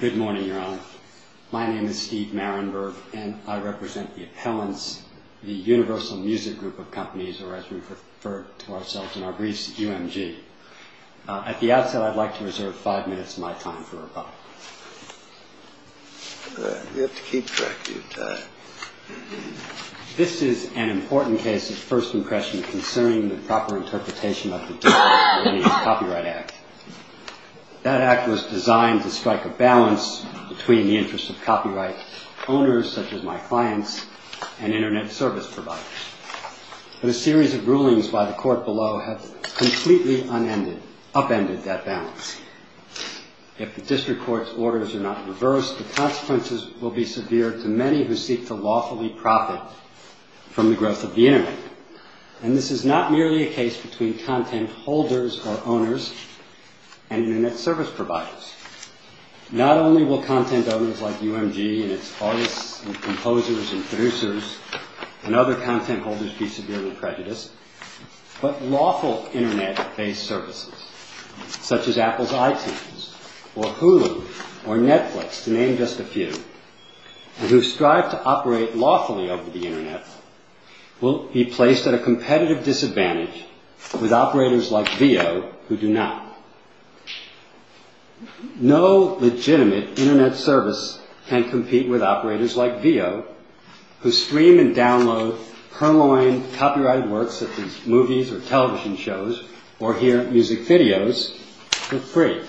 Good morning, Your Honor. My name is Steve Marinburg, and I represent the appellants, the Universal Music Group of Companies, or as we refer to ourselves in our briefs, UMG. At the outset, I'd like to reserve five minutes of my time for rebuttal. You have to keep track of your time. This is an important case of first impression concerning the proper interpretation of the D.A.C.E. Copyright Act. That Act was designed to strike a balance between the interests of copyright owners, such as my clients, and Internet service providers. But a series of rulings by the Court below have completely upended that balance. If the District Court's orders are not reversed, the consequences will be severe to many who seek to lawfully profit from the growth of the Internet. And this is not merely a case between content holders or owners and Internet service providers. Not only will content owners like UMG and its artists and composers and producers and other content holders be severely prejudiced, but lawful Internet-based services, such as Apple's iTunes or Hulu or Netflix, to name just a few, who strive to operate lawfully over the Internet, will be placed at a competitive disadvantage with operators like Veo, who do not. No legitimate Internet service can compete with operators like Veo, who stream and download purloined copyrighted works such as movies or television shows or hear music videos for free.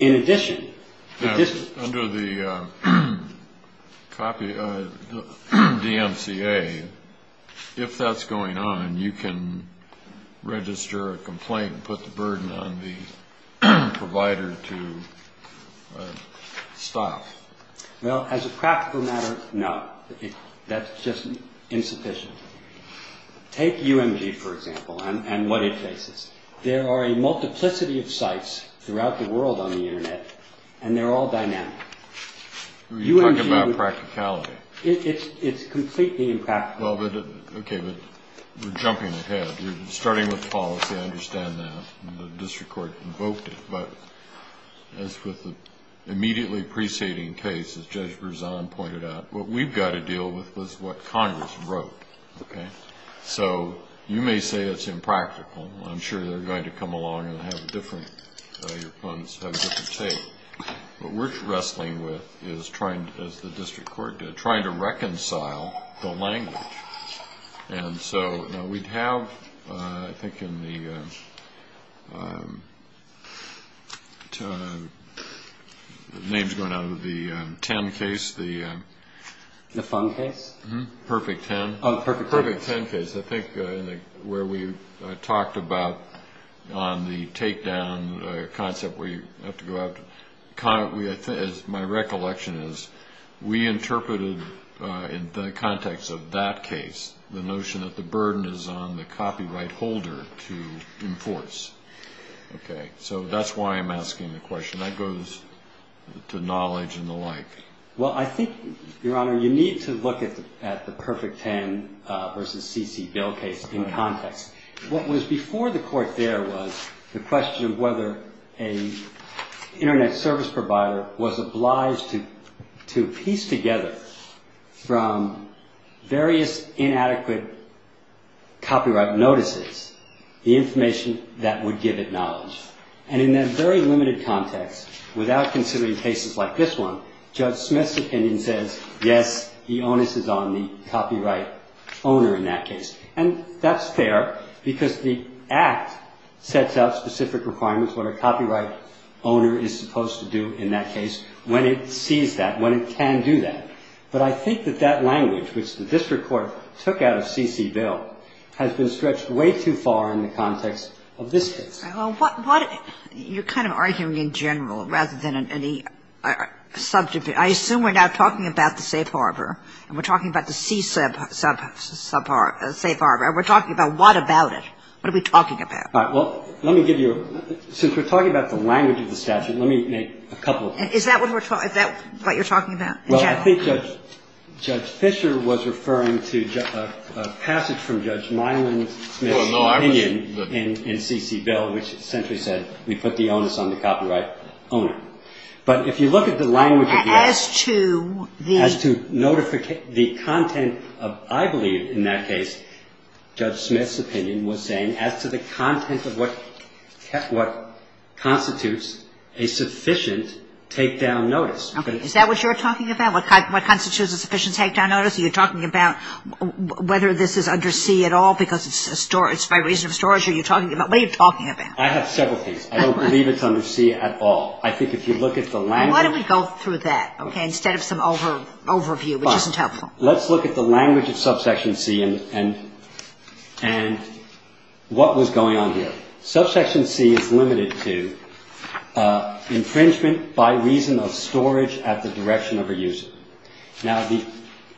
In addition... UNDER THE COPY... DMCA, if that's going on, you can register a complaint and put the burden on the provider to stop. Well, as a practical matter, no. That's just insufficient. Take UMG, for example, and what it faces. There are a multiplicity of sites throughout the world on the Internet, and they're all dynamic. You're talking about practicality. It's completely impractical. Okay, but we're jumping ahead. You're starting with policy. I understand that. The district court invoked it. But as with the immediately preceding case, as Judge Berzon pointed out, what we've got to deal with is what Congress wrote, okay? So you may say it's impractical. I'm sure they're going to come along and have different take. What we're wrestling with is, as the district court did, trying to reconcile the language. And so we'd have, I think, in the names going out of the 10 case, the... The fun case? Perfect 10. Oh, perfect 10. The fun case, I think, where we talked about on the takedown concept where you have to go out. My recollection is we interpreted, in the context of that case, the notion that the burden is on the copyright holder to enforce. Okay, so that's why I'm asking the question. That goes to knowledge and the like. Well, I think, Your Honor, you need to look at the perfect 10 versus C.C. Bill case in context. What was before the court there was the question of whether an Internet service provider was obliged to piece together, from various inadequate copyright notices, the information that would give it knowledge. And in that very limited context, without considering cases like this one, Judge Smith's opinion says, yes, the onus is on the copyright owner in that case. And that's fair because the Act sets out specific requirements, what a copyright owner is supposed to do in that case, when it sees that, when it can do that. But I think that that language, which the district court took out of C.C. Bill, has been stretched way too far in the context of this case. Well, what you're kind of arguing in general rather than in any subject. I assume we're now talking about the safe harbor and we're talking about the C.C. safe harbor. We're talking about what about it? What are we talking about? All right. Well, let me give you a ---- since we're talking about the language of the statute, let me make a couple of points. Is that what we're talking about? Is that what you're talking about in general? Well, I think Judge Fischer was referring to a passage from Judge Milan's opinion in C.C. Bill. Which essentially said we put the onus on the copyright owner. But if you look at the language of the Act ---- As to the ---- As to the content of, I believe in that case, Judge Smith's opinion was saying as to the content of what constitutes a sufficient takedown notice. Okay. Is that what you're talking about? What constitutes a sufficient takedown notice? Are you talking about whether this is under C at all because it's by reason of storage? What are you talking about? I have several things. I don't believe it's under C at all. I think if you look at the language ---- Why don't we go through that, okay, instead of some overview, which isn't helpful. Let's look at the language of subsection C and what was going on here. Subsection C is limited to infringement by reason of storage at the direction of a user. Now, the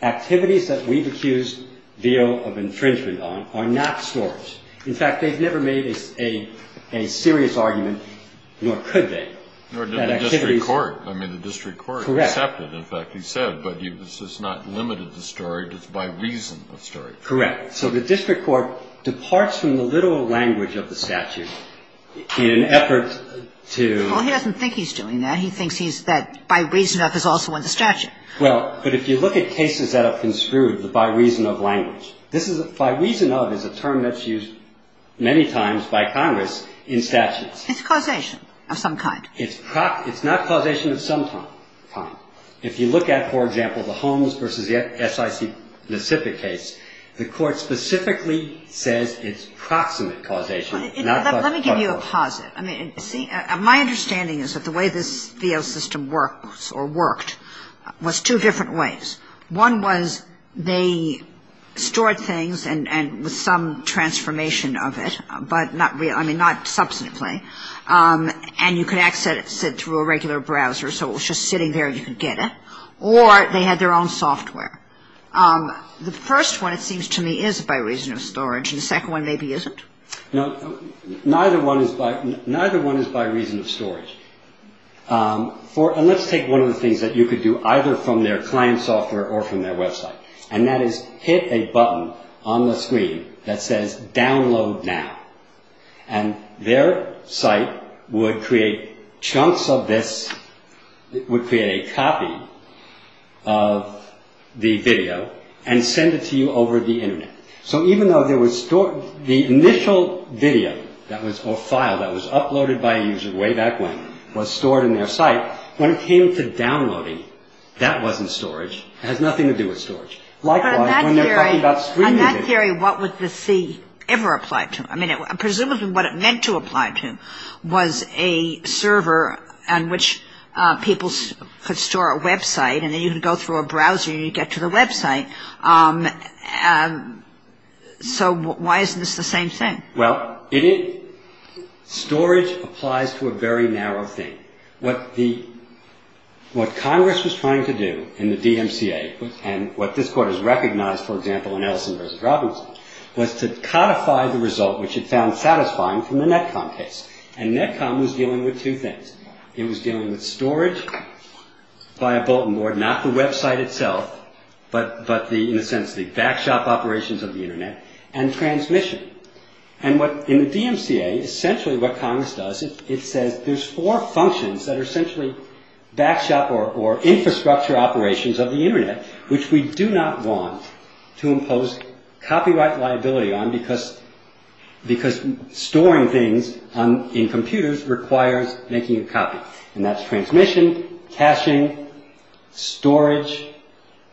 activities that we've accused Veo of infringement on are not storage. In fact, they've never made a serious argument, nor could they. That activities ---- Nor did the district court. I mean, the district court ---- Correct. ----accepted, in fact, he said. But this has not limited the storage. It's by reason of storage. Correct. So the district court departs from the literal language of the statute in an effort to ---- Well, he doesn't think he's doing that. He thinks he's ---- that by reason of is also in the statute. Well, but if you look at cases that have construed the by reason of language. This is by reason of is a term that's used many times by Congress in statutes. It's causation of some kind. It's not causation of some kind. If you look at, for example, the Holmes v. S.I.C. Pacific case, the court specifically says it's proximate causation. Let me give you a posit. I mean, see, my understanding is that the way this Veo system works or worked was two different ways. One was they stored things and with some transformation of it, but not really, I mean, not substantively. And you could access it through a regular browser. So it was just sitting there. You could get it. Or they had their own software. The first one, it seems to me, is by reason of storage. And the second one maybe isn't. No, neither one is by reason of storage. And let's take one of the things that you could do either from their client software or from their website. And that is hit a button on the screen that says download now. And their site would create chunks of this. It would create a copy of the video and send it to you over the Internet. So even though the initial video or file that was uploaded by a user way back when was stored in their site, when it came to downloading, that wasn't storage. It has nothing to do with storage. Likewise, when they're talking about streaming video. But in that theory, what would the C ever apply to? I mean, presumably what it meant to apply to was a server on which people could store a website and then you could go through a browser and you'd get to the website. So why isn't this the same thing? Well, storage applies to a very narrow thing. What Congress was trying to do in the DMCA, and what this Court has recognized, for example, in Ellison v. Robinson, was to codify the result, which it found satisfying from the Netcom case. And Netcom was dealing with two things. It was dealing with storage via bulletin board, not the website itself, but in a sense the backshop operations of the Internet, and transmission. And in the DMCA, essentially what Congress does, it says there's four functions that are essentially backshop or infrastructure operations of the Internet, which we do not want to impose copyright liability on because storing things in computers requires making a copy. And that's transmission, caching, storage,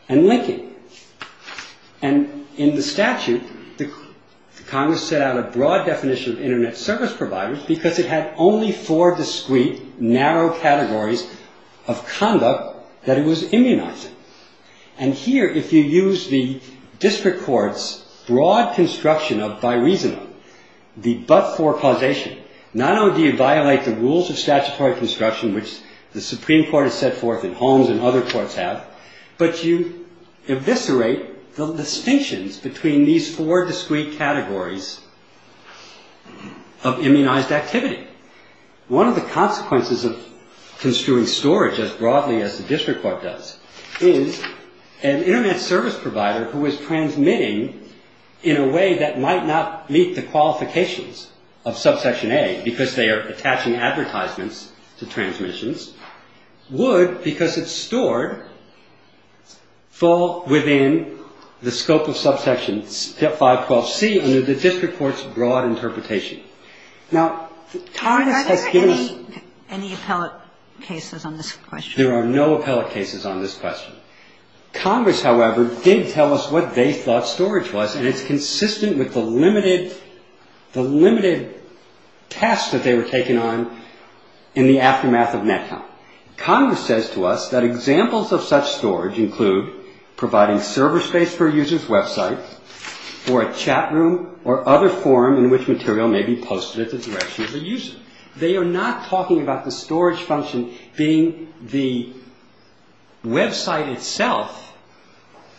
and linking. And in the statute, Congress set out a broad definition of Internet service providers because it had only four discrete, narrow categories of conduct that it was immunizing. And here, if you use the district court's broad construction of bi-reasonable, the but-for causation, not only do you violate the rules of statutory construction, which the Supreme Court has set forth and Holmes and other courts have, but you eviscerate the distinctions between these four discrete categories of immunized activity. One of the consequences of construing storage as broadly as the district court does is an Internet service provider who is transmitting in a way that might not meet the qualifications of subsection A because they are attaching advertisements to transmissions would, because it's stored, fall within the scope of subsection 512C under the district court's broad interpretation. Now, Congress has given us... MS. NISBET. Are there any appellate cases on this question? MR. NEUMANN. There are no appellate cases on this question. Congress, however, did tell us what they thought storage was, and it's consistent with the limited tasks that they were taking on in the aftermath of NetCount. Congress says to us that examples of such storage include providing server space for a user's website or a chat room or other forum in which material may be posted at the direction of the user. They are not talking about the storage function being the website itself,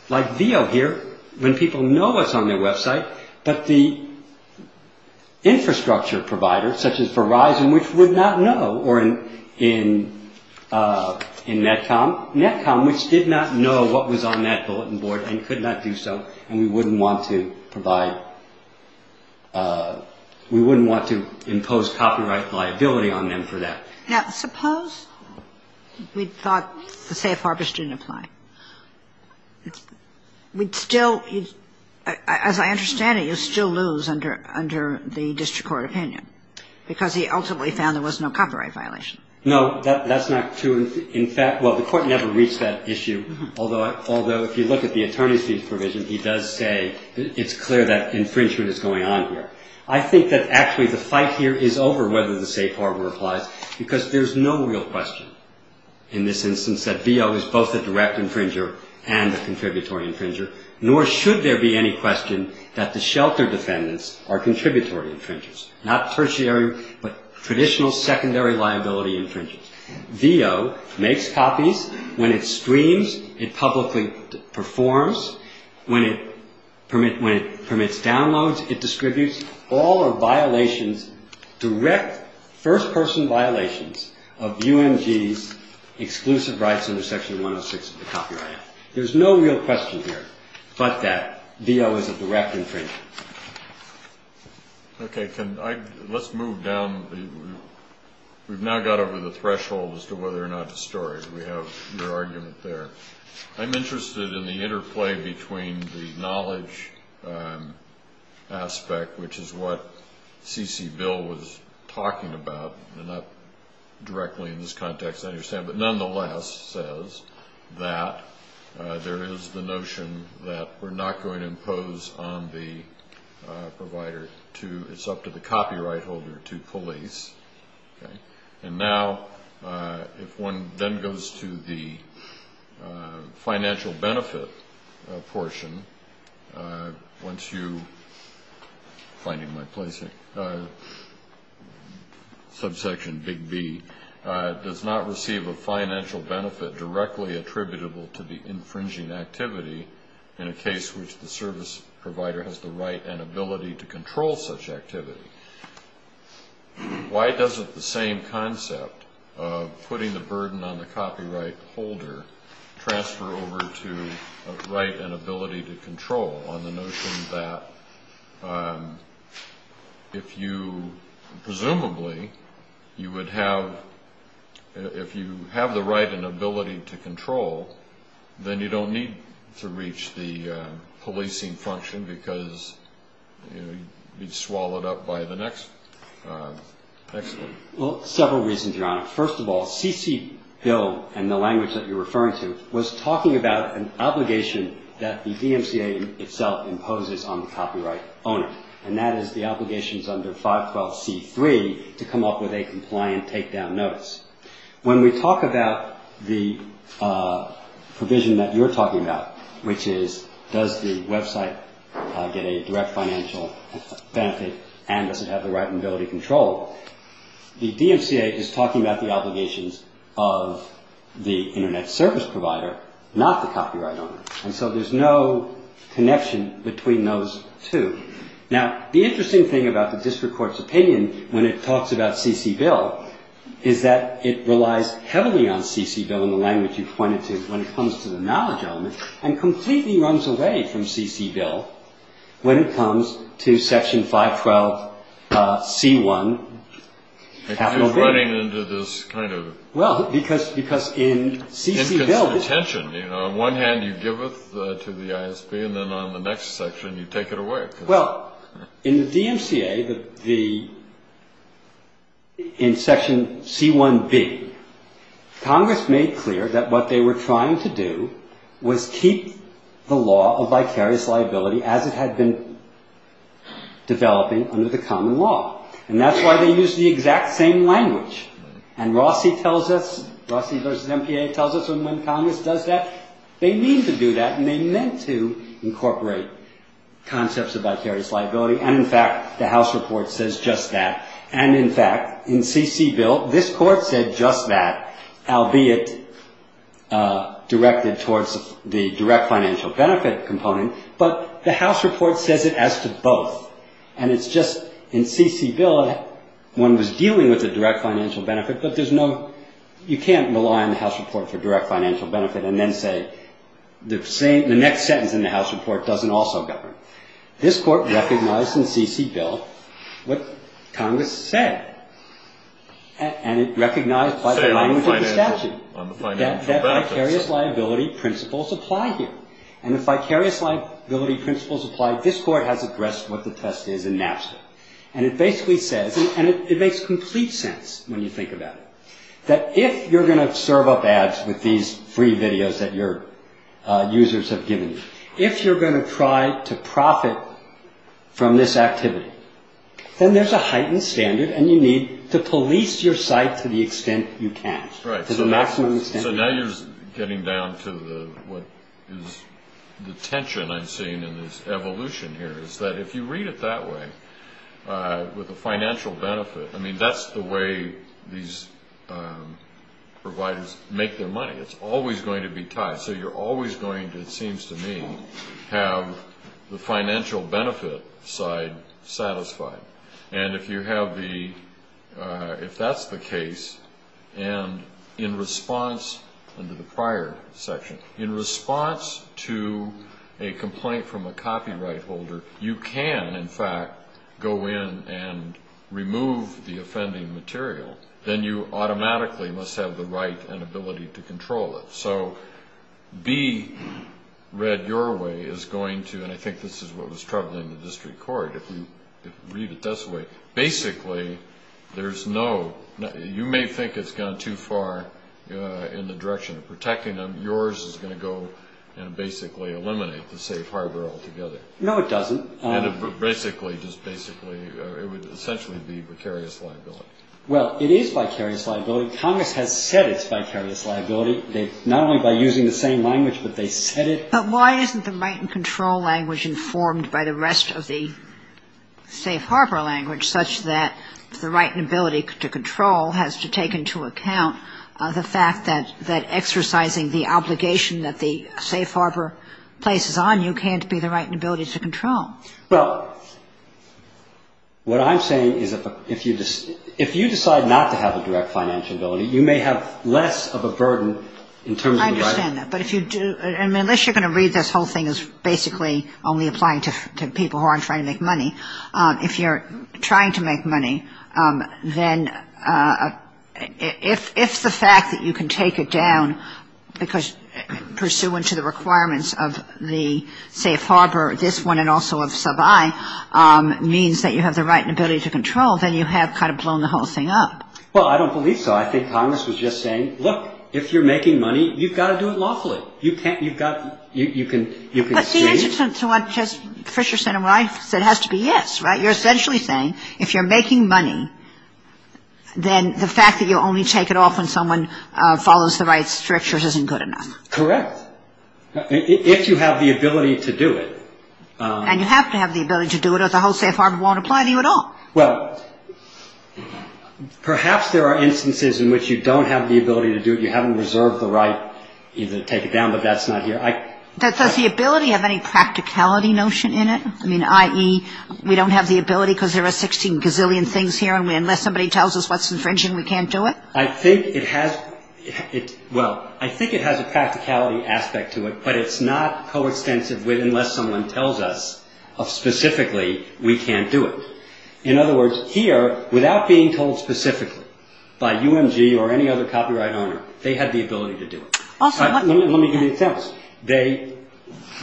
like Veo here, when people know what's on their website, but the infrastructure provider, such as Verizon, which would not know, or in NetCom, NetCom, which did not know what was on that bulletin board and could not do so, and we wouldn't want to provide, we wouldn't want to impose copyright liability on them for that. MS. NISBET. Now, suppose we thought the safe harvest didn't apply. We'd still, as I understand it, you'd still lose under the district court opinion because he ultimately found there was no copyright violation. MR. NEUMANN. No, that's not true. In fact, well, the court never reached that issue, although if you look at the attorney's fees provision, he does say it's clear that infringement is going on here. I think that actually the fight here is over whether the safe harbor applies because there's no real question in this instance that Veo is both a direct infringer and a contributory infringer, nor should there be any question that the shelter defendants are contributory infringers, not tertiary but traditional secondary liability infringers. Veo makes copies. When it streams, it publicly performs. When it permits downloads, it distributes. All are violations, direct first-person violations of UMG's exclusive rights under Section 106 of the Copyright Act. There's no real question here but that Veo is a direct infringer. MR. NEUMANN. Okay. Let's move down. We've now got over the threshold as to whether or not to store it. We have your argument there. I'm interested in the interplay between the knowledge aspect, which is what C.C. Bill was talking about, and not directly in this context, I understand, but nonetheless says that there is the notion that we're not going to impose on the provider. It's up to the copyright holder to police. And now, if one then goes to the financial benefit portion, once you, finding my place here, subsection Big B, does not receive a financial benefit directly attributable to the infringing activity in a case which the service provider has the right and ability to control such activity, why doesn't the same concept of putting the burden on the copyright holder transfer over to a right and ability to control on the notion that if you, presumably, you would have, if you have the right and ability to control, then you don't need to reach the policing function because you'd be swallowed up by the next one. MR. NEUMANN. Well, several reasons, Your Honor. First of all, C.C. Bill, in the language that you're referring to, was talking about an obligation that the DMCA itself imposes on the copyright owner, and that is the obligations under 512C3 to come up with a compliant takedown notice. When we talk about the provision that you're talking about, which is does the website get a direct financial benefit and does it have the right and ability to control, the DMCA is talking about the obligations of the Internet service provider, not the copyright owner. And so there's no connection between those two. Now, the interesting thing about the district court's opinion when it talks about C.C. Bill is that it relies heavily on C.C. Bill in the language you pointed to when it comes to the knowledge element and completely runs away from C.C. Bill when it comes to Section 512C1 capital B. HENRY FRIENDLY. It keeps running into this kind of inconsistent tension. On one hand, you give it to the ISB, and then on the next section, you take it away. Well, in the DMCA, in Section C1B, Congress made clear that what they were trying to do was keep the law of vicarious liability as it had been developing under the common law. And that's why they used the exact same language. And Rossi tells us, Rossi v. MPA tells us when Congress does that, they mean to do that, and they meant to incorporate concepts of vicarious liability. And, in fact, the House report says just that. And, in fact, in C.C. Bill, this Court said just that, albeit directed towards the direct financial benefit component, but the House report says it as to both. And it's just in C.C. Bill, one was dealing with the direct financial benefit, but there's no – you can't rely on the House report for direct financial benefit and then say the next sentence in the House report doesn't also govern. This Court recognized in C.C. Bill what Congress said, and it recognized by the language of the statute that vicarious liability principles apply here. And if vicarious liability principles apply, this Court has addressed what the test is in Napster. And it basically says, and it makes complete sense when you think about it, that if you're going to serve up ads with these free videos that your users have given you, if you're going to try to profit from this activity, then there's a heightened standard, and you need to police your site to the extent you can, to the maximum extent you can. So now you're getting down to what is the tension I'm seeing in this evolution here, is that if you read it that way, with the financial benefit, I mean, that's the way these providers make their money. It's always going to be tied. So you're always going to, it seems to me, have the financial benefit side satisfied. And if you have the, if that's the case, and in response, under the prior section, in response to a complaint from a copyright holder, you can, in fact, go in and remove the offending material, then you automatically must have the right and ability to control it. So be read your way is going to, and I think this is what was troubling the district court, if you read it this way, basically there's no, you may think it's gone too far in the direction of protecting them. Yours is going to go and basically eliminate the safe harbor altogether. No, it doesn't. And it basically, just basically, it would essentially be vicarious liability. Well, it is vicarious liability. Congress has said it's vicarious liability, not only by using the same language, but they said it. But why isn't the right and control language informed by the rest of the safe harbor language, such that the right and ability to control has to take into account the fact that exercising the obligation that the safe harbor places on you can't be the right and ability to control? Well, what I'm saying is if you decide not to have a direct financial ability, you may have less of a burden in terms of the right. Unless you're going to read this whole thing as basically only applying to people who aren't trying to make money. If you're trying to make money, then if the fact that you can take it down because pursuant to the requirements of the safe harbor, this one and also of sub I, means that you have the right and ability to control, then you have kind of blown the whole thing up. Well, I don't believe so. I think Congress was just saying, look, if you're making money, you've got to do it lawfully. You can't, you've got, you can, you can see it. But the answer to what just Fisher said and what I said has to be yes, right? You're essentially saying if you're making money, then the fact that you only take it off when someone follows the right strictures isn't good enough. Correct. If you have the ability to do it. And you have to have the ability to do it or the whole safe harbor won't apply to you at all. Well, perhaps there are instances in which you don't have the ability to do it. You haven't reserved the right to take it down, but that's not here. Does the ability have any practicality notion in it? I mean, i.e., we don't have the ability because there are 16 gazillion things here. And unless somebody tells us what's infringing, we can't do it. I think it has. Well, I think it has a practicality aspect to it, but it's not coextensive with unless someone tells us specifically we can't do it. In other words, here, without being told specifically by UMG or any other copyright owner, they had the ability to do it. Let me give you an example.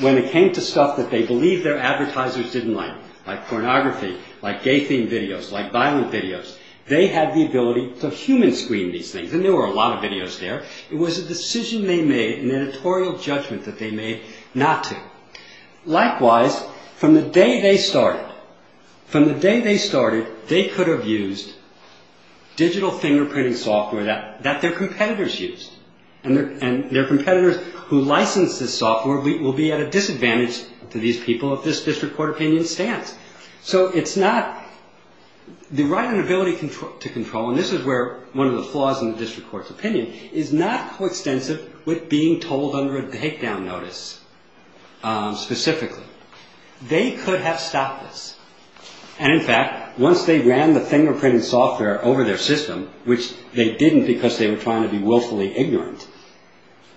When it came to stuff that they believed their advertisers didn't like, like pornography, like gay themed videos, like violent videos, they had the ability to human screen these things. And there were a lot of videos there. It was a decision they made, an editorial judgment that they made not to. Likewise, from the day they started, from the day they started, they could have used digital fingerprinting software that their competitors used. And their competitors who licensed this software will be at a disadvantage to these people if this district court opinion stands. So it's not the right and ability to control, and this is where one of the flaws in the district court's opinion, is not coextensive with being told under a takedown notice specifically. They could have stopped this. And in fact, once they ran the fingerprinting software over their system, which they didn't because they were trying to be willfully ignorant,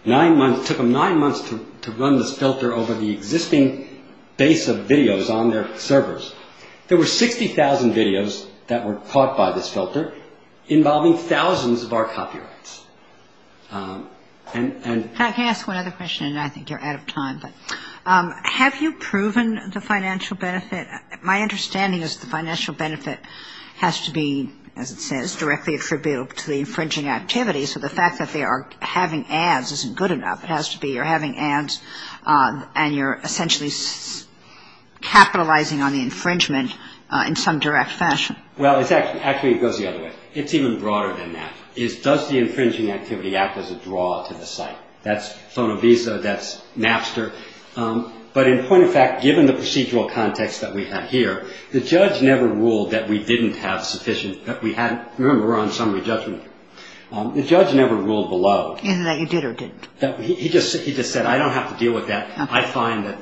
it took them nine months to run this filter over the existing base of videos on their servers. There were 60,000 videos that were caught by this filter, involving thousands of our copyrights. And... Can I ask one other question? And I think you're out of time, but have you proven the financial benefit? My understanding is the financial benefit has to be, as it says, directly attributable to the infringing activities, so the fact that they are having ads isn't good enough. It has to be you're having ads and you're essentially capitalizing on the infringement in some direct fashion. Well, actually it goes the other way. It's even broader than that. It's does the infringing activity act as a draw to the site? That's Sonovisa, that's Napster. But in point of fact, given the procedural context that we have here, the judge never ruled that we didn't have sufficient, that we had, remember we're on summary judgment here. The judge never ruled below. Either that you did or didn't. He just said, I don't have to deal with that. I find that...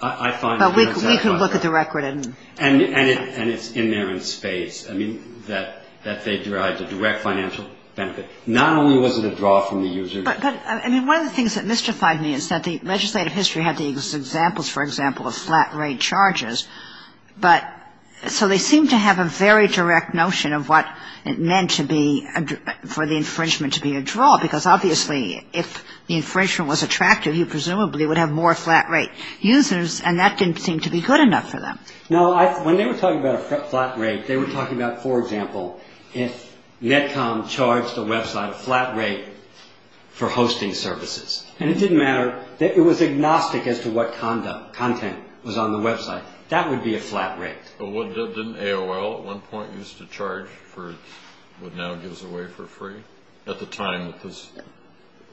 But we could look at the record and... And it's in there in spades, I mean, that they derived a direct financial benefit. Not only was it a draw from the user... But, I mean, one of the things that mystified me is that the legislative history had the examples, for example, of flat rate charges, but so they seem to have a very direct notion of what it meant to be, for the infringement to be a draw, because obviously if the infringement was attractive, you presumably would have more flat rate users, and that didn't seem to be good enough for them. No, when they were talking about a flat rate, they were talking about, for example, if Netcom charged a website a flat rate for hosting services. And it didn't matter. It was agnostic as to what content was on the website. That would be a flat rate. But didn't AOL at one point used to charge for what now gives away for free? At the time that this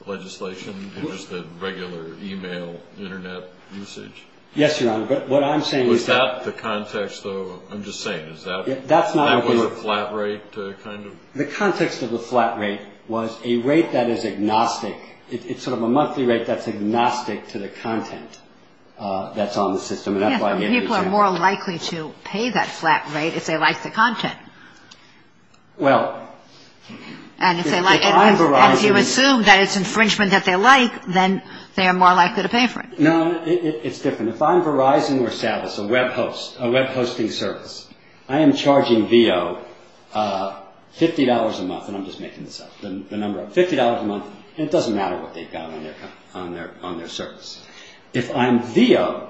legislation existed, regular e-mail, Internet usage? Yes, Your Honor, but what I'm saying is that... Was that the context, though? I'm just saying, is that... That's not what we... That was a flat rate kind of... The context of the flat rate was a rate that is agnostic. It's sort of a monthly rate that's agnostic to the content that's on the system. Yes, and people are more likely to pay that flat rate if they like the content. Well... And if you assume that it's infringement that they like, then they are more likely to pay for it. No, it's different. If I'm Verizon or Service, a web hosting service, I am charging Veo $50 a month, and I'm just making this up, the number up, $50 a month, and it doesn't matter what they've got on their service. If I'm Veo,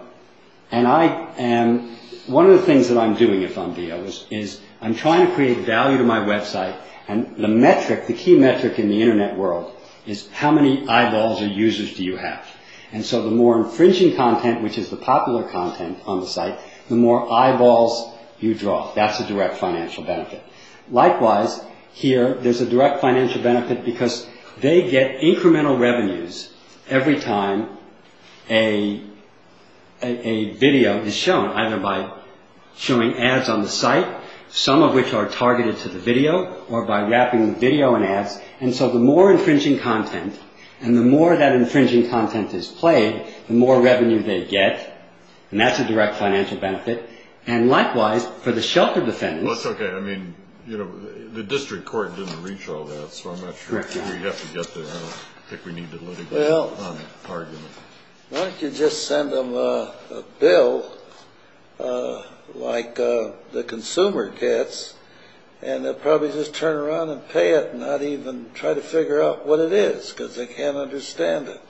and I am... One of the things that I'm doing if I'm Veo is I'm trying to create value to my website, and the metric, the key metric in the Internet world is how many eyeballs or users do you have? And so the more infringing content, which is the popular content on the site, the more eyeballs you draw. That's a direct financial benefit. Likewise, here, there's a direct financial benefit because they get incremental revenues every time a video is shown, either by showing ads on the site, some of which are targeted to the video, or by wrapping the video in ads. And so the more infringing content, and the more that infringing content is played, the more revenue they get, and that's a direct financial benefit. And likewise, for the shelter defendants... I don't think we need to let anybody on the argument. Why don't you just send them a bill like the consumer gets, and they'll probably just turn around and pay it and not even try to figure out what it is because they can't understand it.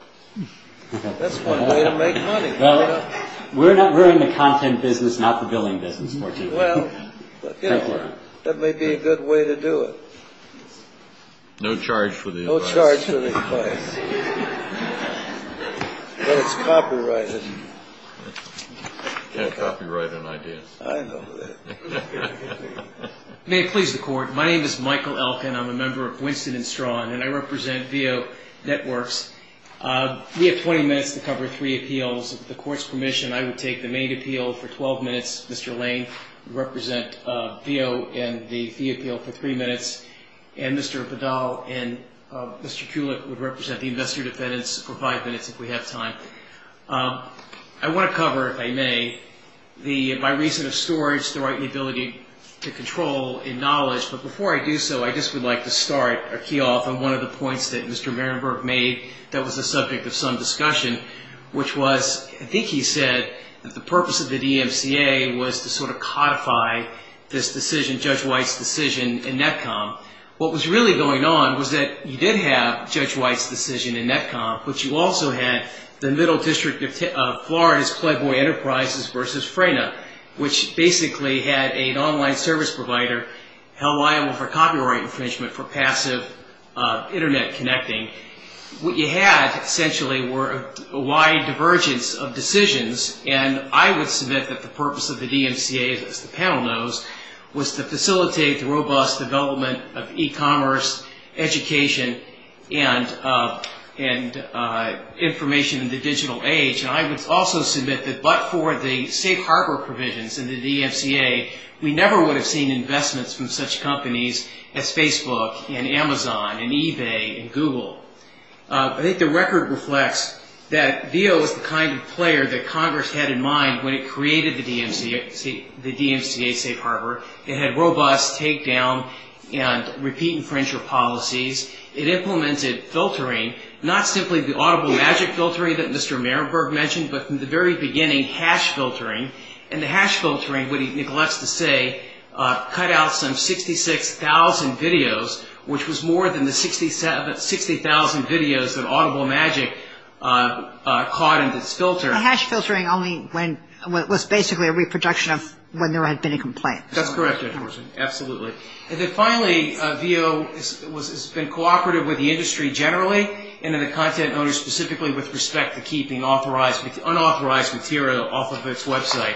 That's one way to make money. Well, we're in the content business, not the billing business. Well, that may be a good way to do it. No charge for the advice. No charge for the advice. But it's copyrighted. You can't copyright an idea. I know that. May it please the Court. My name is Michael Elkin. I'm a member of Winston & Strawn, and I represent VEO Networks. We have 20 minutes to cover three appeals. With the Court's permission, I would take the main appeal for 12 minutes. Mr. Lane would represent VEO in the fee appeal for three minutes, and Mr. Vidal and Mr. Kulik would represent the investor defendants for five minutes if we have time. I want to cover, if I may, my reason of storage, the right and the ability to control and knowledge. But before I do so, I just would like to start or key off on one of the points that Mr. Marienberg made that was the subject of some discussion, which was, I think he said, that the purpose of the DMCA was to sort of codify this decision, Judge White's decision in Netcom. What was really going on was that you did have Judge White's decision in Netcom, but you also had the Middle District of Florida's Playboy Enterprises versus FRENA, which basically had an online service provider held liable for copyright infringement for passive Internet connecting. What you had, essentially, were a wide divergence of decisions, and I would submit that the purpose of the DMCA, as the panel knows, was to facilitate the robust development of e-commerce, education, and information in the digital age. And I would also submit that but for the safe harbor provisions in the DMCA, we never would have seen investments from such companies as Facebook and Amazon and eBay and Google. I think the record reflects that Veo was the kind of player that Congress had in mind when it created the DMCA safe harbor. It had robust takedown and repeat infringer policies. It implemented filtering, not simply the audible magic filtering that Mr. Marienberg mentioned, but from the very beginning, hash filtering, and the hash filtering, what he neglects to say, cut out some 66,000 videos, which was more than the 60,000 videos that audible magic caught in this filter. The hash filtering was basically a reproduction of when there had been a complaint. That's correct, of course, absolutely. And then finally, Veo has been cooperative with the industry generally and then the content owner specifically with respect to keeping unauthorized material off of its website.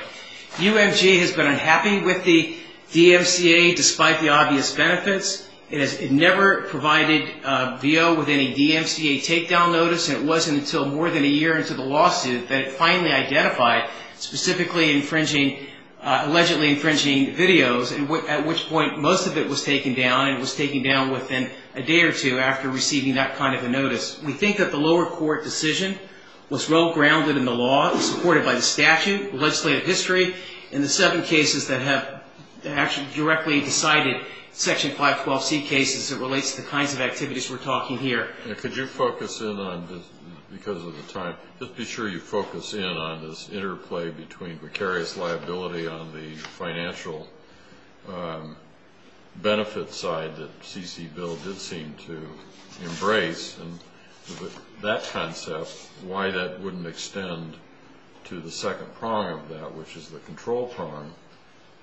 UMG has been unhappy with the DMCA despite the obvious benefits. It never provided Veo with any DMCA takedown notice, and it wasn't until more than a year into the lawsuit that it finally identified specifically infringing, allegedly infringing videos, at which point most of it was taken down, within a day or two after receiving that kind of a notice. We think that the lower court decision was well grounded in the law, supported by the statute, legislative history, and the seven cases that have actually directly decided Section 512C cases that relates to the kinds of activities we're talking here. Could you focus in on, because of the time, just be sure you focus in on this interplay between precarious liability on the financial benefits side that C.C. Bill did seem to embrace, and that concept, why that wouldn't extend to the second prong of that, which is the control prong.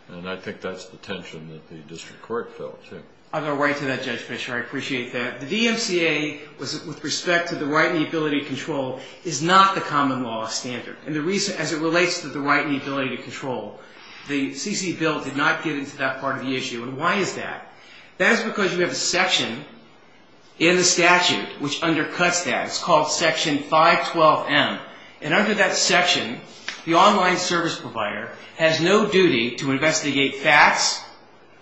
And I think that's the tension that the district court felt, too. I'll go right to that, Judge Fischer. I appreciate that. The DMCA, with respect to the right and the ability to control, is not the common law standard. As it relates to the right and the ability to control, the C.C. Bill did not get into that part of the issue. And why is that? That is because we have a section in the statute which undercuts that. It's called Section 512M. And under that section, the online service provider has no duty to investigate FATs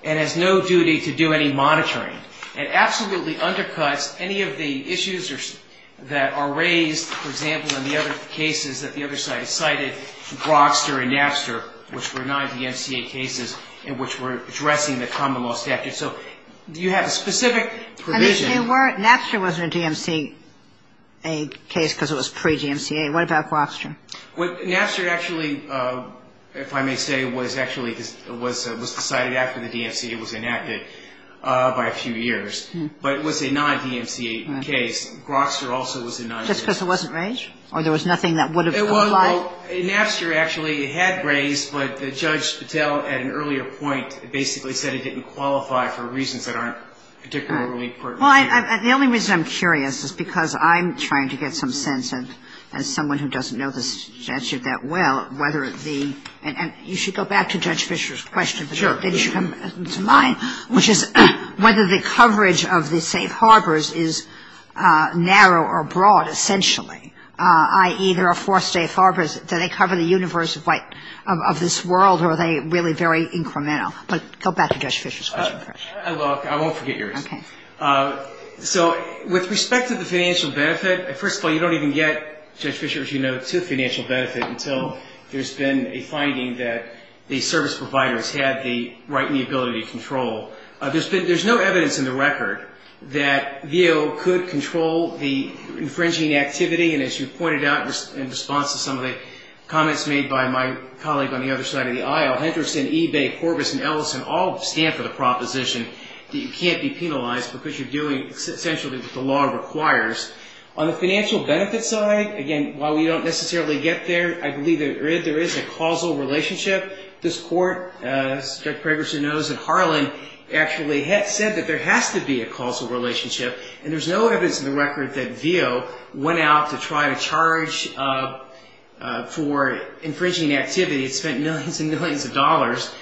and has no duty to do any monitoring. It absolutely undercuts any of the issues that are raised, for example, in the other cases that the other side cited, Grokster and Napster, which were non-DMCA cases and which were addressing the common law statute. So you have a specific provision. Napster wasn't a DMCA case because it was pre-DMCA. What about Grokster? Napster actually, if I may say, was actually decided after the DMCA was enacted by a few years. But it was a non-DMCA case. Grokster also was a non-DMCA. Just because it wasn't raised? Or there was nothing that would have applied? It was. Napster actually had raised, but Judge Patel at an earlier point basically said it didn't qualify for reasons that aren't particularly pertinent. The only reason I'm curious is because I'm trying to get some sense, and as someone who doesn't know the statute that well, whether the — and you should go back to Judge Fischer's question, but maybe you should come to mine, which is whether the coverage of the safe harbors is narrow or broad essentially, i.e., there are four safe harbors. Do they cover the universe of this world, or are they really very incremental? But go back to Judge Fischer's question first. Well, I won't forget yours. Okay. So with respect to the financial benefit, first of all, you don't even get, Judge Fischer, as you know, to financial benefit until there's been a finding that the service providers had the right and the ability to control. There's no evidence in the record that VO could control the infringing activity, and as you pointed out in response to some of the comments made by my colleague on the other side of the aisle, Henderson, Ebay, Corbis, and Ellison all stand for the proposition that you can't be penalized because you're doing essentially what the law requires. On the financial benefit side, again, while we don't necessarily get there, I believe there is a causal relationship. This Court, as Judge Pragerson knows, at Harlan, actually said that there has to be a causal relationship, and there's no evidence in the record that VO went out to try to charge for infringing activity. It spent millions and millions of dollars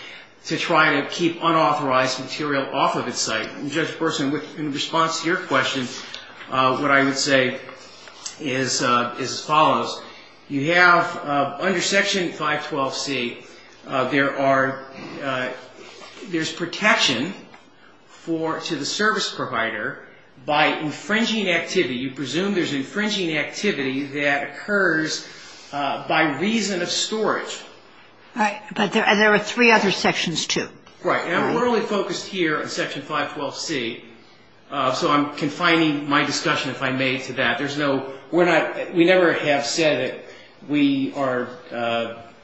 to try to keep unauthorized material off of its site. And, Judge Burson, in response to your question, what I would say is as follows. You have, under Section 512C, there's protection to the service provider by infringing activity. You presume there's infringing activity that occurs by reason of storage. Right. But there are three other sections, too. Right. And we're only focused here on Section 512C, so I'm confining my discussion, if I may, to that. We never have said that we are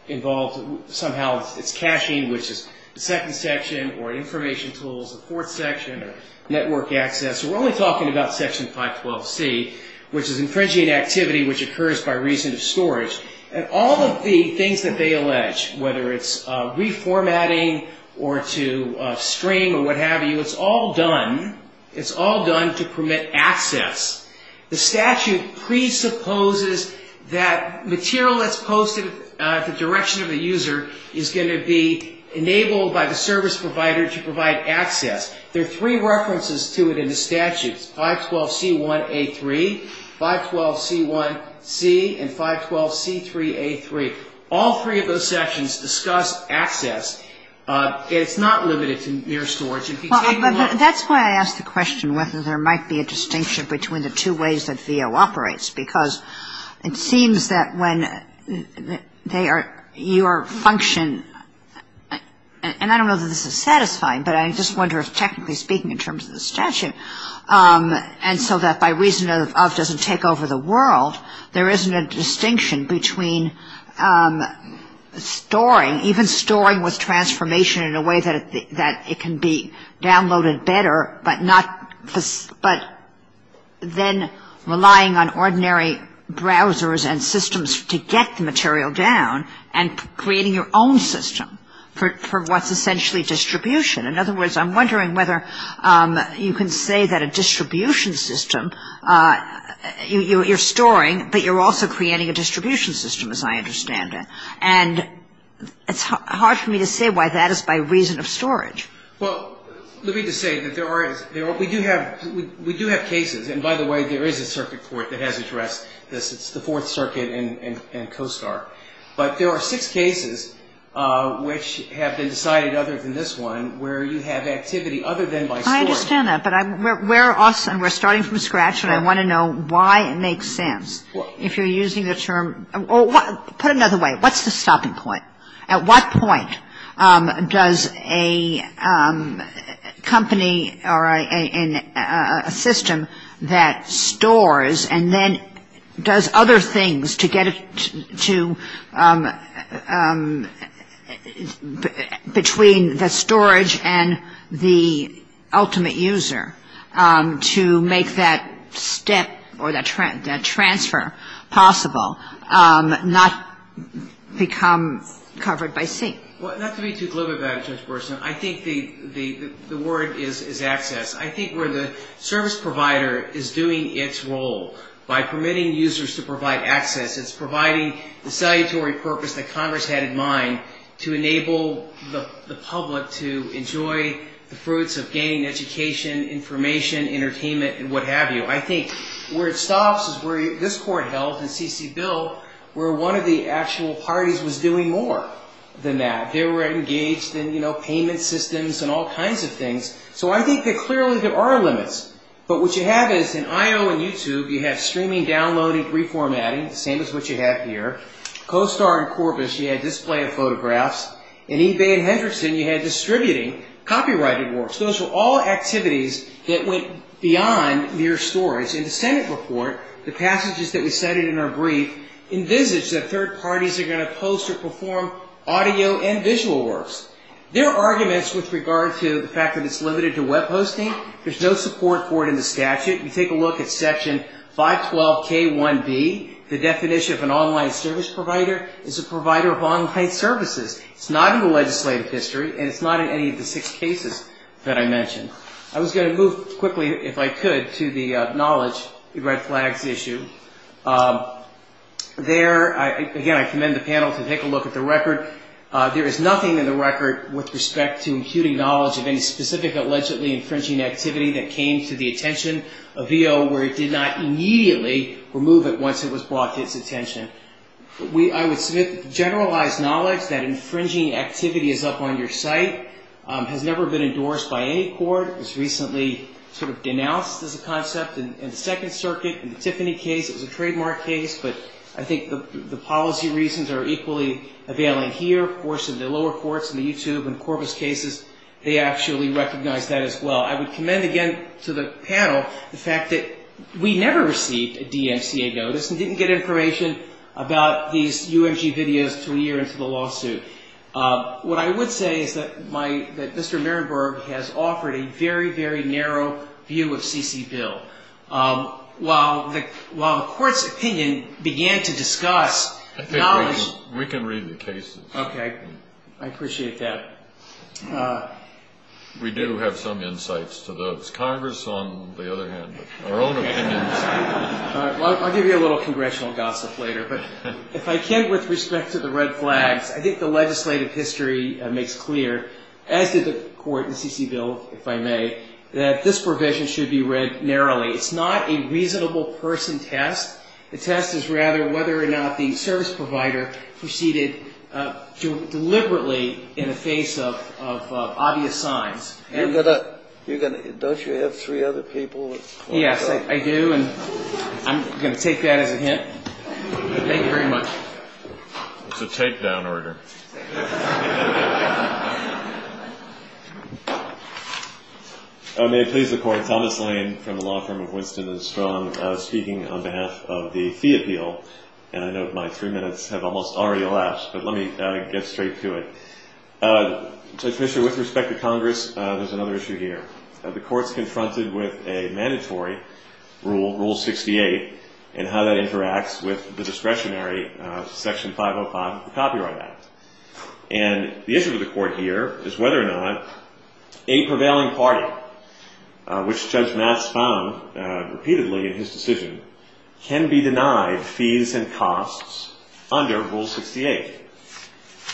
involved. Somehow it's caching, which is the second section, or information tools, the fourth section, or network access. We're only talking about Section 512C, which is infringing activity which occurs by reason of storage. And all of the things that they allege, whether it's reformatting or to stream or what have you, it's all done to permit access. The statute presupposes that material that's posted at the direction of the user is going to be enabled by the service provider to provide access. There are three references to it in the statute, 512C1A3, 512C1C, and 512C3A3. All three of those sections discuss access, and it's not limited to mere storage. That's why I asked the question whether there might be a distinction between the two ways that VO operates, because it seems that when your function, and I don't know that this is satisfying, but I just wonder if technically speaking in terms of the statute, and so that by reason of doesn't take over the world, there isn't a distinction between storing, even storing with transformation in a way that it can be downloaded better, but then relying on ordinary browsers and systems to get the material down, and creating your own system for what's essentially distribution. In other words, I'm wondering whether you can say that a distribution system, you're storing, but you're also creating a distribution system, as I understand it. And it's hard for me to say why that is by reason of storage. We do have cases, and by the way, there is a circuit court that has addressed this. It's the Fourth Circuit and COSTAR. But there are six cases which have been decided other than this one where you have activity other than by storing. I understand that, but we're starting from scratch, and I want to know why it makes sense. If you're using the term or put it another way, what's the stopping point? At what point does a company or a system that stores and then does other things to get it to, between the storage and the ultimate user, to make that step or that transfer possible, not become covered by C? I think where the service provider is doing its role by permitting users to provide access, it's providing the salutary purpose that Congress had in mind to enable the public to enjoy the fruits of gaining education, information, entertainment, and what have you. I think where it stops is where this Court held in C.C. Bill where one of the actual parties was doing more than that. They were engaged in payment systems and all kinds of things, so I think that clearly there are limits. But what you have is in IO and YouTube, you have streaming, downloading, reformatting, the same as what you have here. COSTAR and Corbis, you had display of photographs. In eBay and Henderson, you had distributing, copyrighted works. Those were all activities that went beyond mere storage. In the Senate report, the passages that we cited in our brief envisaged that third parties are going to post or perform audio and visual works. There are arguments with regard to the fact that it's limited to web hosting. There's no support for it in the statute. If you take a look at section 512K1B, the definition of an online service provider is a provider of online services. It's not in the legislative history, and it's not in any of the six cases that I mentioned. I was going to move quickly, if I could, to the knowledge, the red flags issue. There, again, I commend the panel to take a look at the record. There is nothing in the record with respect to imputing knowledge of any specific allegedly infringing activity that came to the attention of VO where it did not immediately remove it once it was brought to its attention. I would submit generalized knowledge that infringing activity is up on your site has never been endorsed by any court. It was recently denounced as a concept in the Second Circuit. In the Tiffany case, it was a trademark case, but I think the policy reasons are equally availing here. Of course, in the lower courts, in the YouTube and Corpus cases, they actually recognize that as well. I would commend again to the panel the fact that we never received a DMCA notice and didn't get information about these UMG videos until a year into the lawsuit. What I would say is that Mr. Marienberg has offered a very, very narrow view of C.C. Bill. While the court's opinion began to discuss knowledge... I think we can read the cases. Okay. I appreciate that. We do have some insights to those. Congress, on the other hand, our own opinions... I'll give you a little congressional gossip later, but if I can, with respect to the red flags, I think the legislative history makes clear, as did the court in C.C. Bill, if I may, that this provision should be read narrowly. It's not a reasonable person test. The test is rather whether or not the service provider proceeded deliberately in the face of obvious signs. Don't you have three other people? Yes, I do. I'm going to take that as a hint. Thank you very much. It's a takedown order. May it please the court, Thomas Lane from the law firm of Winston and Strong speaking on behalf of the fee appeal. I know my three minutes have almost already elapsed, but let me get straight to it. Judge Fischer, with respect to Congress, there's another issue here. The court's confronted with a mandatory rule, Rule 68, and how that interacts with the discretionary Section 505 Copyright Act. And the issue to the court here is whether or not a prevailing party, which Judge Matt Spahn repeatedly in his decision, can be denied fees and costs under Rule 68.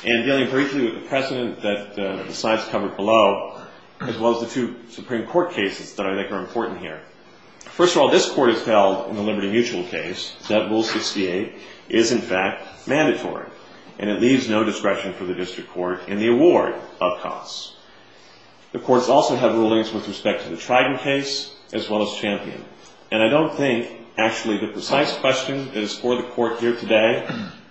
And dealing briefly with the precedent that the slides covered below, as well as the two Supreme Court cases that I think are important here. First of all, this Court has held in the Liberty Mutual case that Rule 68 is, in fact, mandatory. And it leaves no discretion for the district court in the award of costs. The courts also have rulings with respect to the Trident case as well as Champion. And I don't think, actually, the precise question that is for the court here today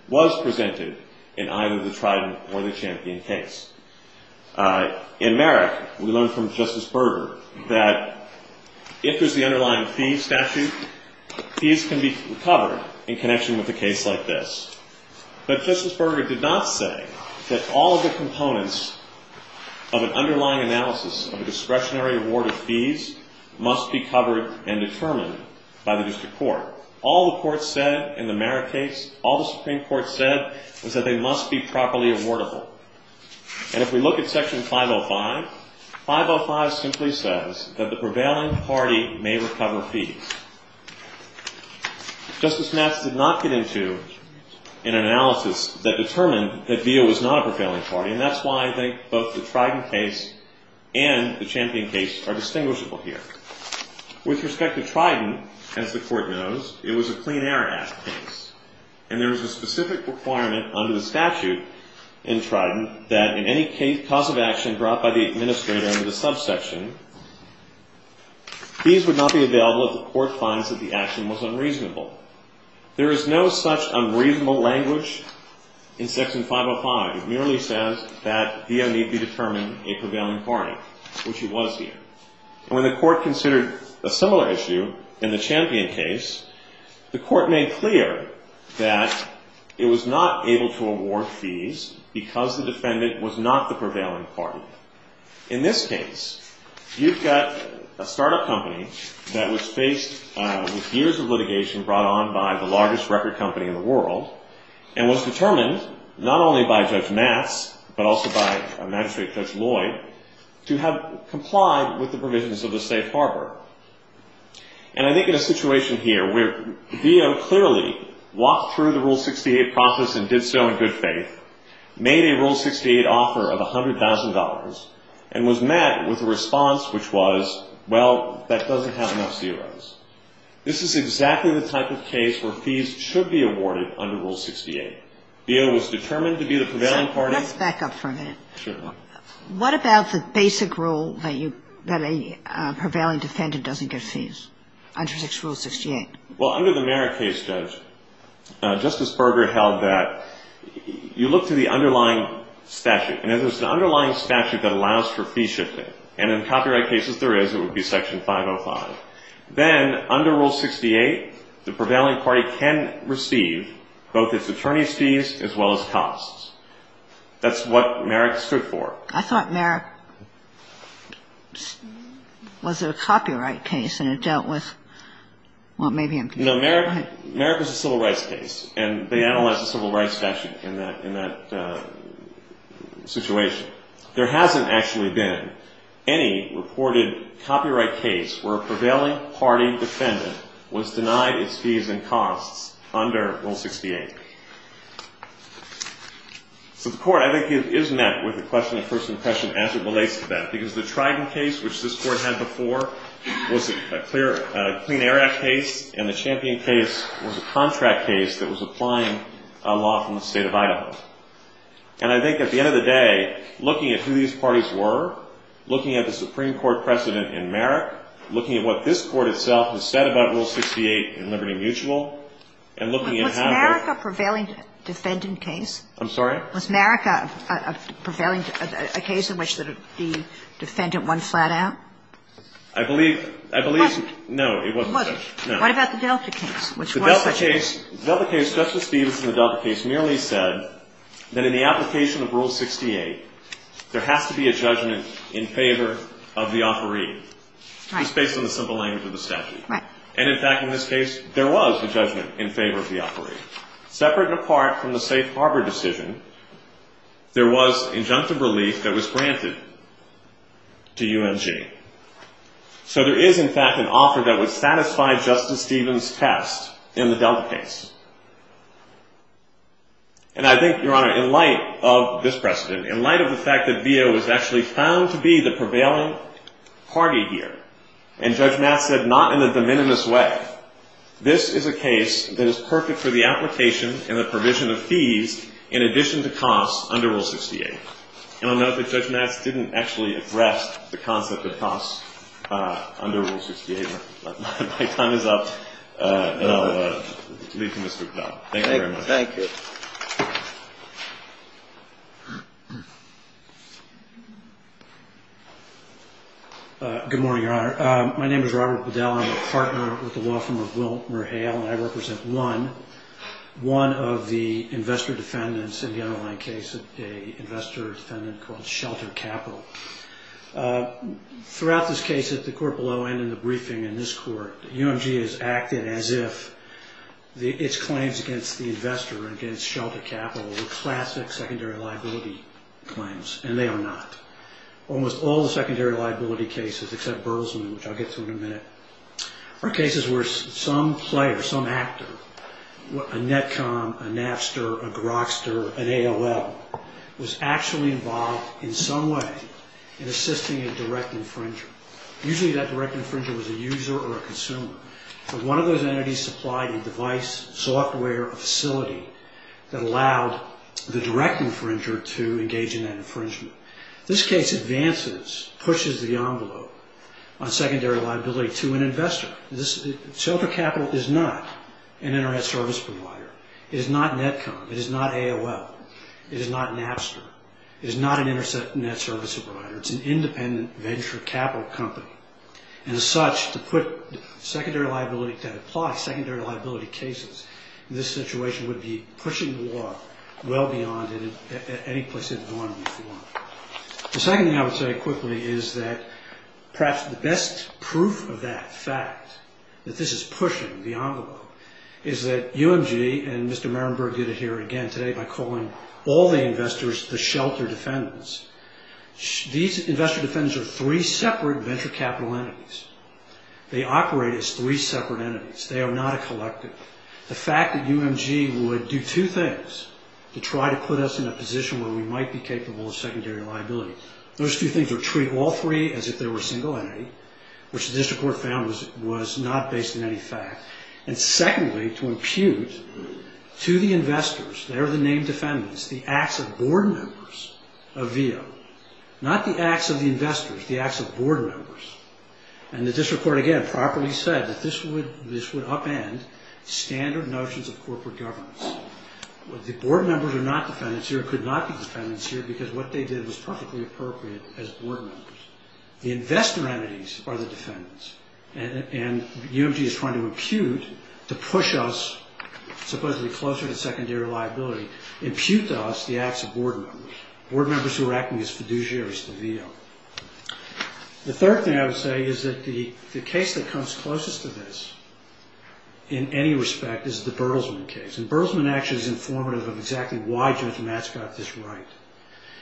was presented in either the Trident or the Champion case. In Merrick, we learned from Justice Berger that if there's the underlying fee statute, fees can be covered in connection with a case like this. But Justice Berger did not say that all of the components of an underlying analysis of a discretionary award of fees must be covered and determined by the district court. All the courts said in the Merrick case, all the Supreme Court said, was that they must be properly awardable. And if we look at Section 505, 505 simply says that the prevailing party may recover fees. Justice Matz did not get into an analysis that determined that VIA was not a prevailing party. And that's why I think both the Trident case and the Champion case are distinguishable here. With respect to Trident, as the court knows, it was a clean air act case. And there is a specific requirement under the statute in Trident that in any case, cause of action brought by the administrator under the subsection, fees would not be available if the court finds that the action was unreasonable. There is no such unreasonable language in Section 505. It merely says that VIA need be determined a prevailing party, which it was here. And when the court considered a similar issue in the Champion case, the court made clear that it was not able to award fees because the defendant was not the prevailing party. In this case, you've got a startup company that was faced with years of litigation brought on by the largest record company in the world and was determined not only by Judge Matz, but also by Magistrate Judge Lloyd, to have complied with the provisions of the safe harbor. And I think in a situation here where VIO clearly walked through the Rule 68 process and did so in good faith, made a Rule 68 offer of $100,000 and was met with a response which was, well, that doesn't have enough zeros. This is exactly the type of case where fees should be awarded under Rule 68. VIO was determined to be the prevailing party. Well, under the Merrick case, Judge, Justice Berger held that you look to the underlying statute. And if there's an underlying statute that allows for fee shifting, and in copyright cases there is, it would be Section 505. Then under Rule 68, the prevailing party can receive both its attorney's fees as well as costs. That's what Merrick stood for. I thought Merrick was a copyright case and it dealt with, well, maybe I'm confused. No, Merrick was a civil rights case, and they analyzed the civil rights statute in that situation. There hasn't actually been any reported copyright case where a prevailing party defendant was denied its fees and costs under Rule 68. So the Court, I think, is met with a question of first impression as it relates to that. Because the Trident case, which this Court had before, was a clear Clean Air Act case, and the Champion case was a contract case that was applying a law from the state of Idaho. And I think at the end of the day, looking at who these parties were, looking at the Supreme Court precedent in Merrick, looking at what this Court itself has said about Rule 68 in Liberty Mutual, and looking at how the ---- But was Merrick a prevailing defendant case? I'm sorry? Was Merrick a prevailing ---- a case in which the defendant won flat out? I believe ---- It wasn't. No, it wasn't. It wasn't. No. What about the Delta case, which was such a ---- The Delta case, Justice Stevens in the Delta case merely said that in the application of Rule 68, there has to be a judgment in favor of the offeree. Right. It's based on the simple language of the statute. Right. And, in fact, in this case, there was a judgment in favor of the offeree. Separate and apart from the safe harbor decision, there was injunctive relief that was granted to UMG. So there is, in fact, an offer that would satisfy Justice Stevens' test in the Delta case. And I think, Your Honor, in light of this precedent, in light of the fact that Veo was actually found to be the prevailing party here, and Judge Matz said not in a de minimis way, this is a case that is perfect for the application and the provision of fees in addition to costs under Rule 68. And I'll note that Judge Matz didn't actually address the concept of costs under Rule 68. My time is up, and I'll leave you, Mr. McConnell. Thank you very much. Thank you. Good morning, Your Honor. My name is Robert Bedell. I'm a partner with the law firm of WilmerHale, and I represent one of the investor defendants in the underlying case, an investor defendant called Shelter Capital. Throughout this case, at the court below and in the briefing in this court, UMG has acted as if its claims against the investor, against Shelter Capital, were classic secondary liability claims, and they are not. Almost all the secondary liability cases, except Burleson, which I'll get to in a minute, are cases where some player, some actor, a netcom, a NAFSTR, a Grokster, an AOL, was actually involved in some way in assisting a direct infringer. Usually that direct infringer was a user or a consumer, but one of those entities supplied a device, software, a facility, that allowed the direct infringer to engage in that infringement. This case advances, pushes the envelope on secondary liability to an investor. Shelter Capital is not an internet service provider. It is not netcom. It is not AOL. It is not NAFSTR. It is not an internet service provider. It's an independent venture capital company. And as such, to put secondary liability, to apply secondary liability cases, this situation would be pushing the law well beyond any place in the norm before. The second thing I would say quickly is that perhaps the best proof of that fact, that this is pushing the envelope, is that UMG and Mr. Marienberg did it here again today by calling all the investors the shelter defendants. These investor defendants are three separate venture capital entities. They operate as three separate entities. They are not a collective. The fact that UMG would do two things to try to put us in a position where we might be capable of secondary liability, those two things would treat all three as if they were a single entity, which the district court found was not based on any fact. And secondly, to impute to the investors, they are the named defendants, the acts of board members of VEO. Not the acts of the investors, the acts of board members. And the district court again properly said that this would upend standard notions of corporate governance. The board members are not defendants here, could not be defendants here, because what they did was perfectly appropriate as board members. The investor entities are the defendants. And UMG is trying to impute, to push us supposedly closer to secondary liability, impute to us the acts of board members. Board members who are acting as fiduciaries to VEO. The third thing I would say is that the case that comes closest to this in any respect is the Burlesman case. And Burlesman actually is informative of exactly why Judge Matz got this right.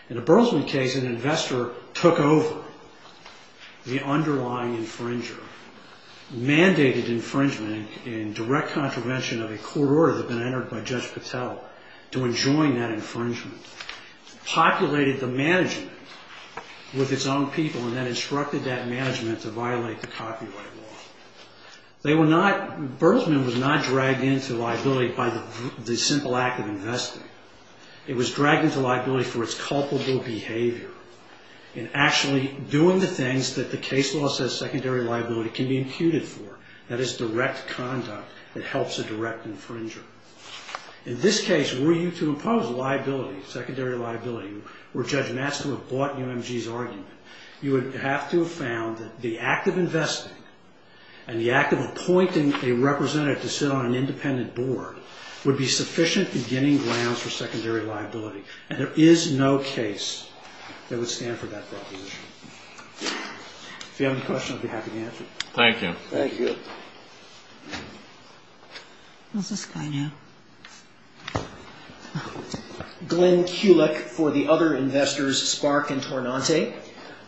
In the Burlesman case, an investor took over the underlying infringer, mandated infringement in direct contravention of a court order that had been entered by Judge Patel to enjoin that infringement, populated the management with its own people, and then instructed that management to violate the copyright law. Burlesman was not dragged into liability by the simple act of investing. It was dragged into liability for its culpable behavior in actually doing the things that the case law says secondary liability can be imputed for. That is direct conduct that helps a direct infringer. In this case, were you to impose liability, secondary liability, were Judge Matz to have bought UMG's argument, you would have to have found that the act of investing and the act of appointing a representative to sit on an independent board would be sufficient beginning grounds for secondary liability. And there is no case that would stand for that proposition. If you have any questions, I'd be happy to answer them. Thank you. Thank you. Who's this guy now? Glenn Kulick for the other investors, Spark and Tornante.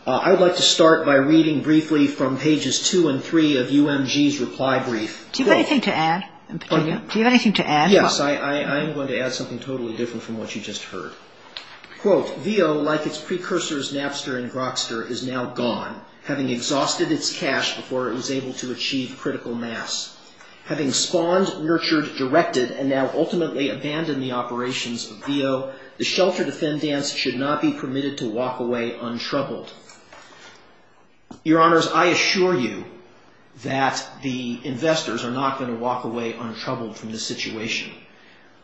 I would like to start by reading briefly from pages 2 and 3 of UMG's reply brief. Do you have anything to add in particular? Do you have anything to add? Yes. I am going to add something totally different from what you just heard. Quote, Veo, like its precursors, Napster and Grokster, is now gone, having exhausted its cash before it was able to achieve critical mass. Having spawned, nurtured, directed, and now ultimately abandoned the operations of Veo, the shelter defendants should not be permitted to walk away untroubled. Your Honors, I assure you that the investors are not going to walk away untroubled from this situation.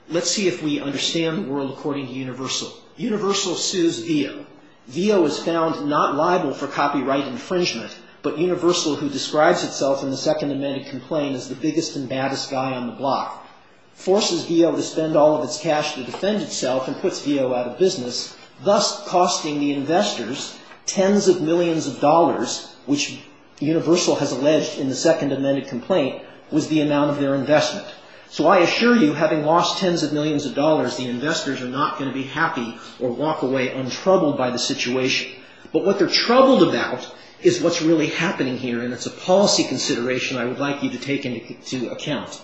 Let's see if we understand the world according to Universal. Universal sues Veo. Veo is found not liable for copyright infringement, but Universal, who describes itself in the Second Amendment Complaint as the biggest and baddest guy on the block, forces Veo to spend all of its cash to defend itself and puts Veo out of business, thus costing the investors tens of millions of dollars, which Universal has alleged in the Second Amendment Complaint was the amount of their investment. So I assure you, having lost tens of millions of dollars, the investors are not going to be happy or walk away untroubled by the situation. But what they're troubled about is what's really happening here, and it's a policy consideration I would like you to take into account.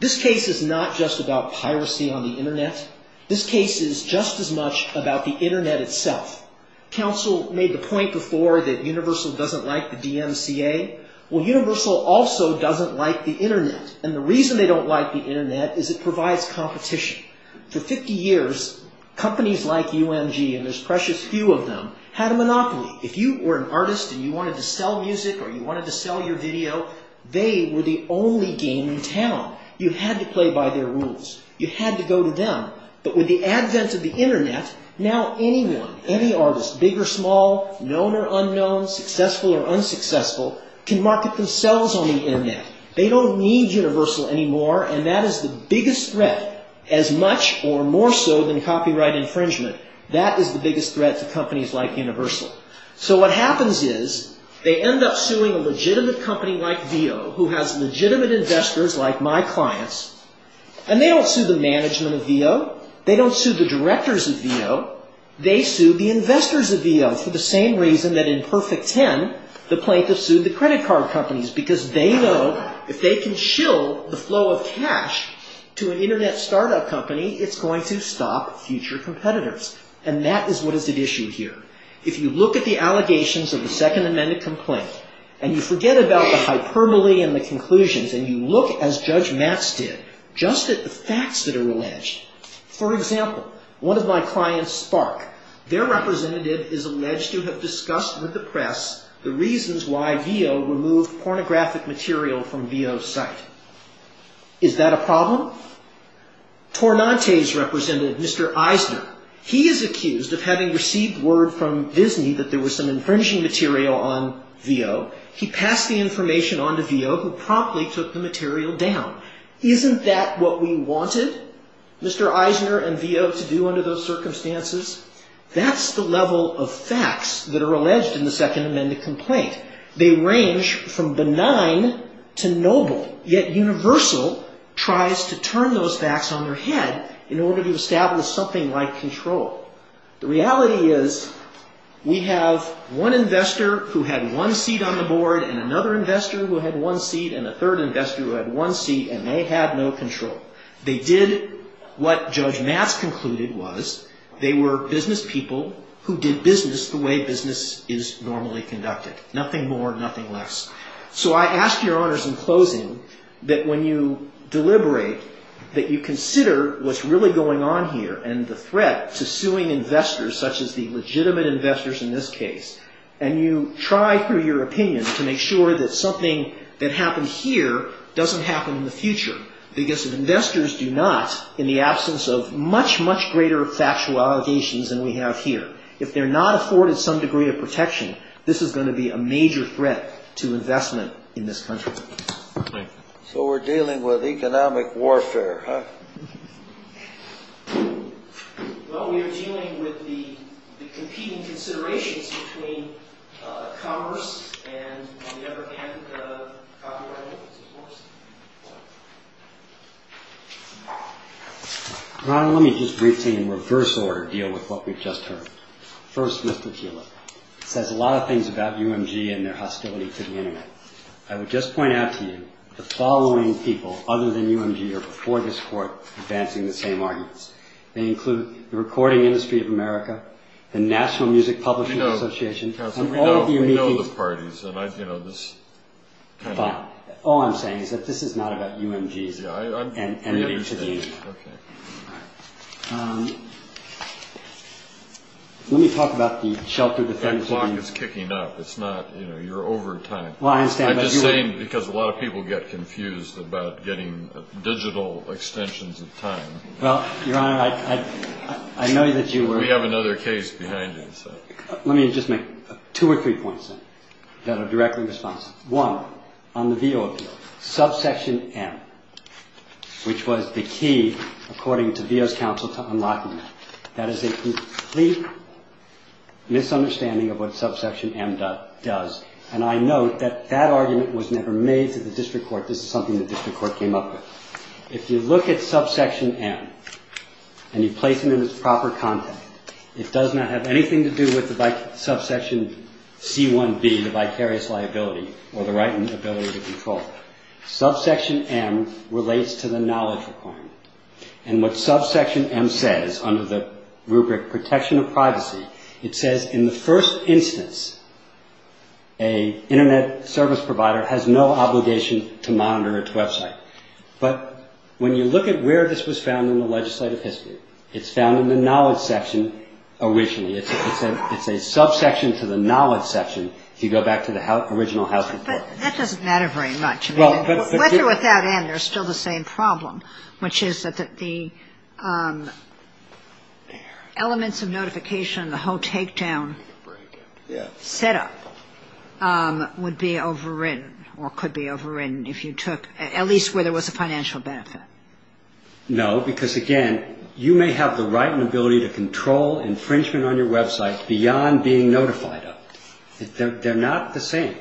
This case is not just about piracy on the Internet. This case is just as much about the Internet itself. Counsel made the point before that Universal doesn't like the DMCA. Well, Universal also doesn't like the Internet, and the reason they don't like the Internet is it provides competition. For 50 years, companies like UMG, and there's precious few of them, had a monopoly. If you were an artist and you wanted to sell music or you wanted to sell your video, they were the only game in town. You had to play by their rules. You had to go to them. But with the advent of the Internet, now anyone, any artist, big or small, known or unknown, successful or unsuccessful, can market themselves on the Internet. They don't need Universal anymore, and that is the biggest threat, as much or more so than copyright infringement. That is the biggest threat to companies like Universal. So what happens is they end up suing a legitimate company like Veo, who has legitimate investors like my clients, and they don't sue the management of Veo. They don't sue the directors of Veo. They sue the investors of Veo for the same reason that in Perfect Ten, the plaintiffs sued the credit card companies because they know if they can shill the flow of cash to an Internet startup company, it's going to stop future competitors, and that is what is at issue here. If you look at the allegations of the Second Amendment complaint, and you forget about the hyperbole and the conclusions, and you look, as Judge Matz did, just at the facts that are alleged. For example, one of my clients, Spark, their representative is alleged to have discussed with the press the reasons why Veo removed pornographic material from Veo's site. Is that a problem? Tornante's representative, Mr. Eisner, he is accused of having received word from Disney that there was some infringing material on Veo. He passed the information on to Veo, who promptly took the material down. Isn't that what we wanted Mr. Eisner and Veo to do under those circumstances? That's the level of facts that are alleged in the Second Amendment complaint. They range from benign to noble, yet Universal tries to turn those facts on their head in order to establish something like control. The reality is we have one investor who had one seat on the board and another investor who had one seat and a third investor who had one seat and they had no control. They did what Judge Matz concluded was they were business people who did business the way business is normally conducted. Nothing more, nothing less. So I ask your honors in closing that when you deliberate, that you consider what's really going on here and the threat to suing investors such as the legitimate investors in this case and you try through your opinion to make sure that something that happened here doesn't happen in the future because if investors do not, in the absence of much, much greater factual allegations than we have here, if they're not afforded some degree of protection, this is going to be a major threat to investment in this country. So we're dealing with economic warfare, huh? Well, we are dealing with the competing considerations between commerce and, on the other hand, the copyright holders, of course. Ron, let me just briefly in reverse order deal with what we've just heard. First, Mr. Kieler. It says a lot of things about UMG and their hostility to the Internet. I would just point out to you the following people other than UMG are before this court advancing the same arguments. They include the Recording Industry of America, the National Music Publishing Association, and all of the unique... You know, Counselor, we know the parties, and I, you know, this kind of... Fine. All I'm saying is that this is not about UMG's entity to the Internet. Yeah, I understand. Okay. Let me talk about the shelter defense of UMG. That clock is kicking up. It's not, you know, you're over time. Well, I understand, but you... I'm just saying because a lot of people get confused about getting digital extensions of time. Well, Your Honor, I know that you were... We have another case behind you, so... Let me just make two or three points then that are directly responsive. One, on the Veo appeal, subsection M, which was the key, according to Veo's counsel, to unlocking that. That is a complete misunderstanding of what subsection M does. And I note that that argument was never made to the district court. This is something the district court came up with. If you look at subsection M and you place it in its proper context, it does not have anything to do with subsection C1B, the vicarious liability, or the right and ability to control. Subsection M relates to the knowledge requirement. And what subsection M says, under the rubric protection of privacy, it says, in the first instance, a Internet service provider has no obligation to monitor its Web site. But when you look at where this was found in the legislative history, it's found in the knowledge section originally. It's a subsection to the knowledge section if you go back to the original House report. But that doesn't matter very much. Well, but... With or without M, there's still the same problem, which is that the elements of notification, the whole takedown set up, would be overridden or could be overridden if you took, at least where there was a financial benefit. No, because, again, you may have the right and ability to control infringement on your Web site beyond being notified of it. They're not the same.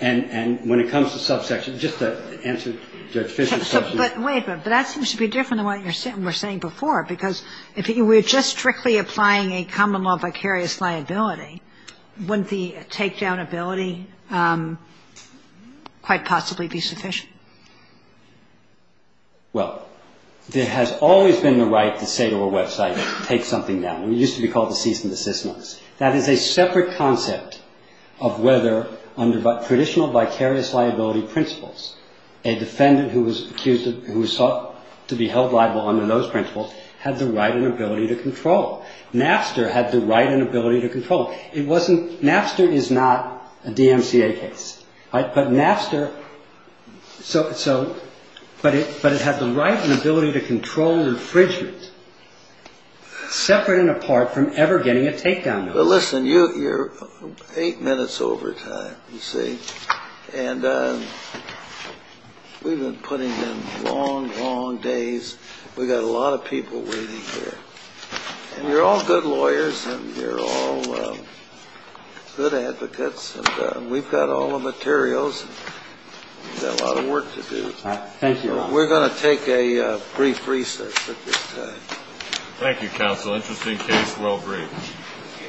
And when it comes to subsection, just to answer Judge Fischer's question... But wait a minute. But that seems to be different than what you were saying before, because if you were just strictly applying a common law vicarious liability, wouldn't the takedown ability quite possibly be sufficient? Well, there has always been the right to say to a Web site, take something down. It used to be called the cease and desist notice. That is a separate concept of whether, under traditional vicarious liability principles, a defendant who was accused of, who was thought to be held liable under those principles, had the right and ability to control. NAFSTR had the right and ability to control. It wasn't... NAFSTR is not a DMCA case. But NAFSTR... But listen, you're eight minutes over time, you see. And we've been putting in long, long days. We've got a lot of people waiting here. And you're all good lawyers and you're all good advocates. And we've got all the materials. We've got a lot of work to do. Thank you, Your Honor. We're going to take a brief recess at this time. Thank you, Counsel. Interesting case. Well brief.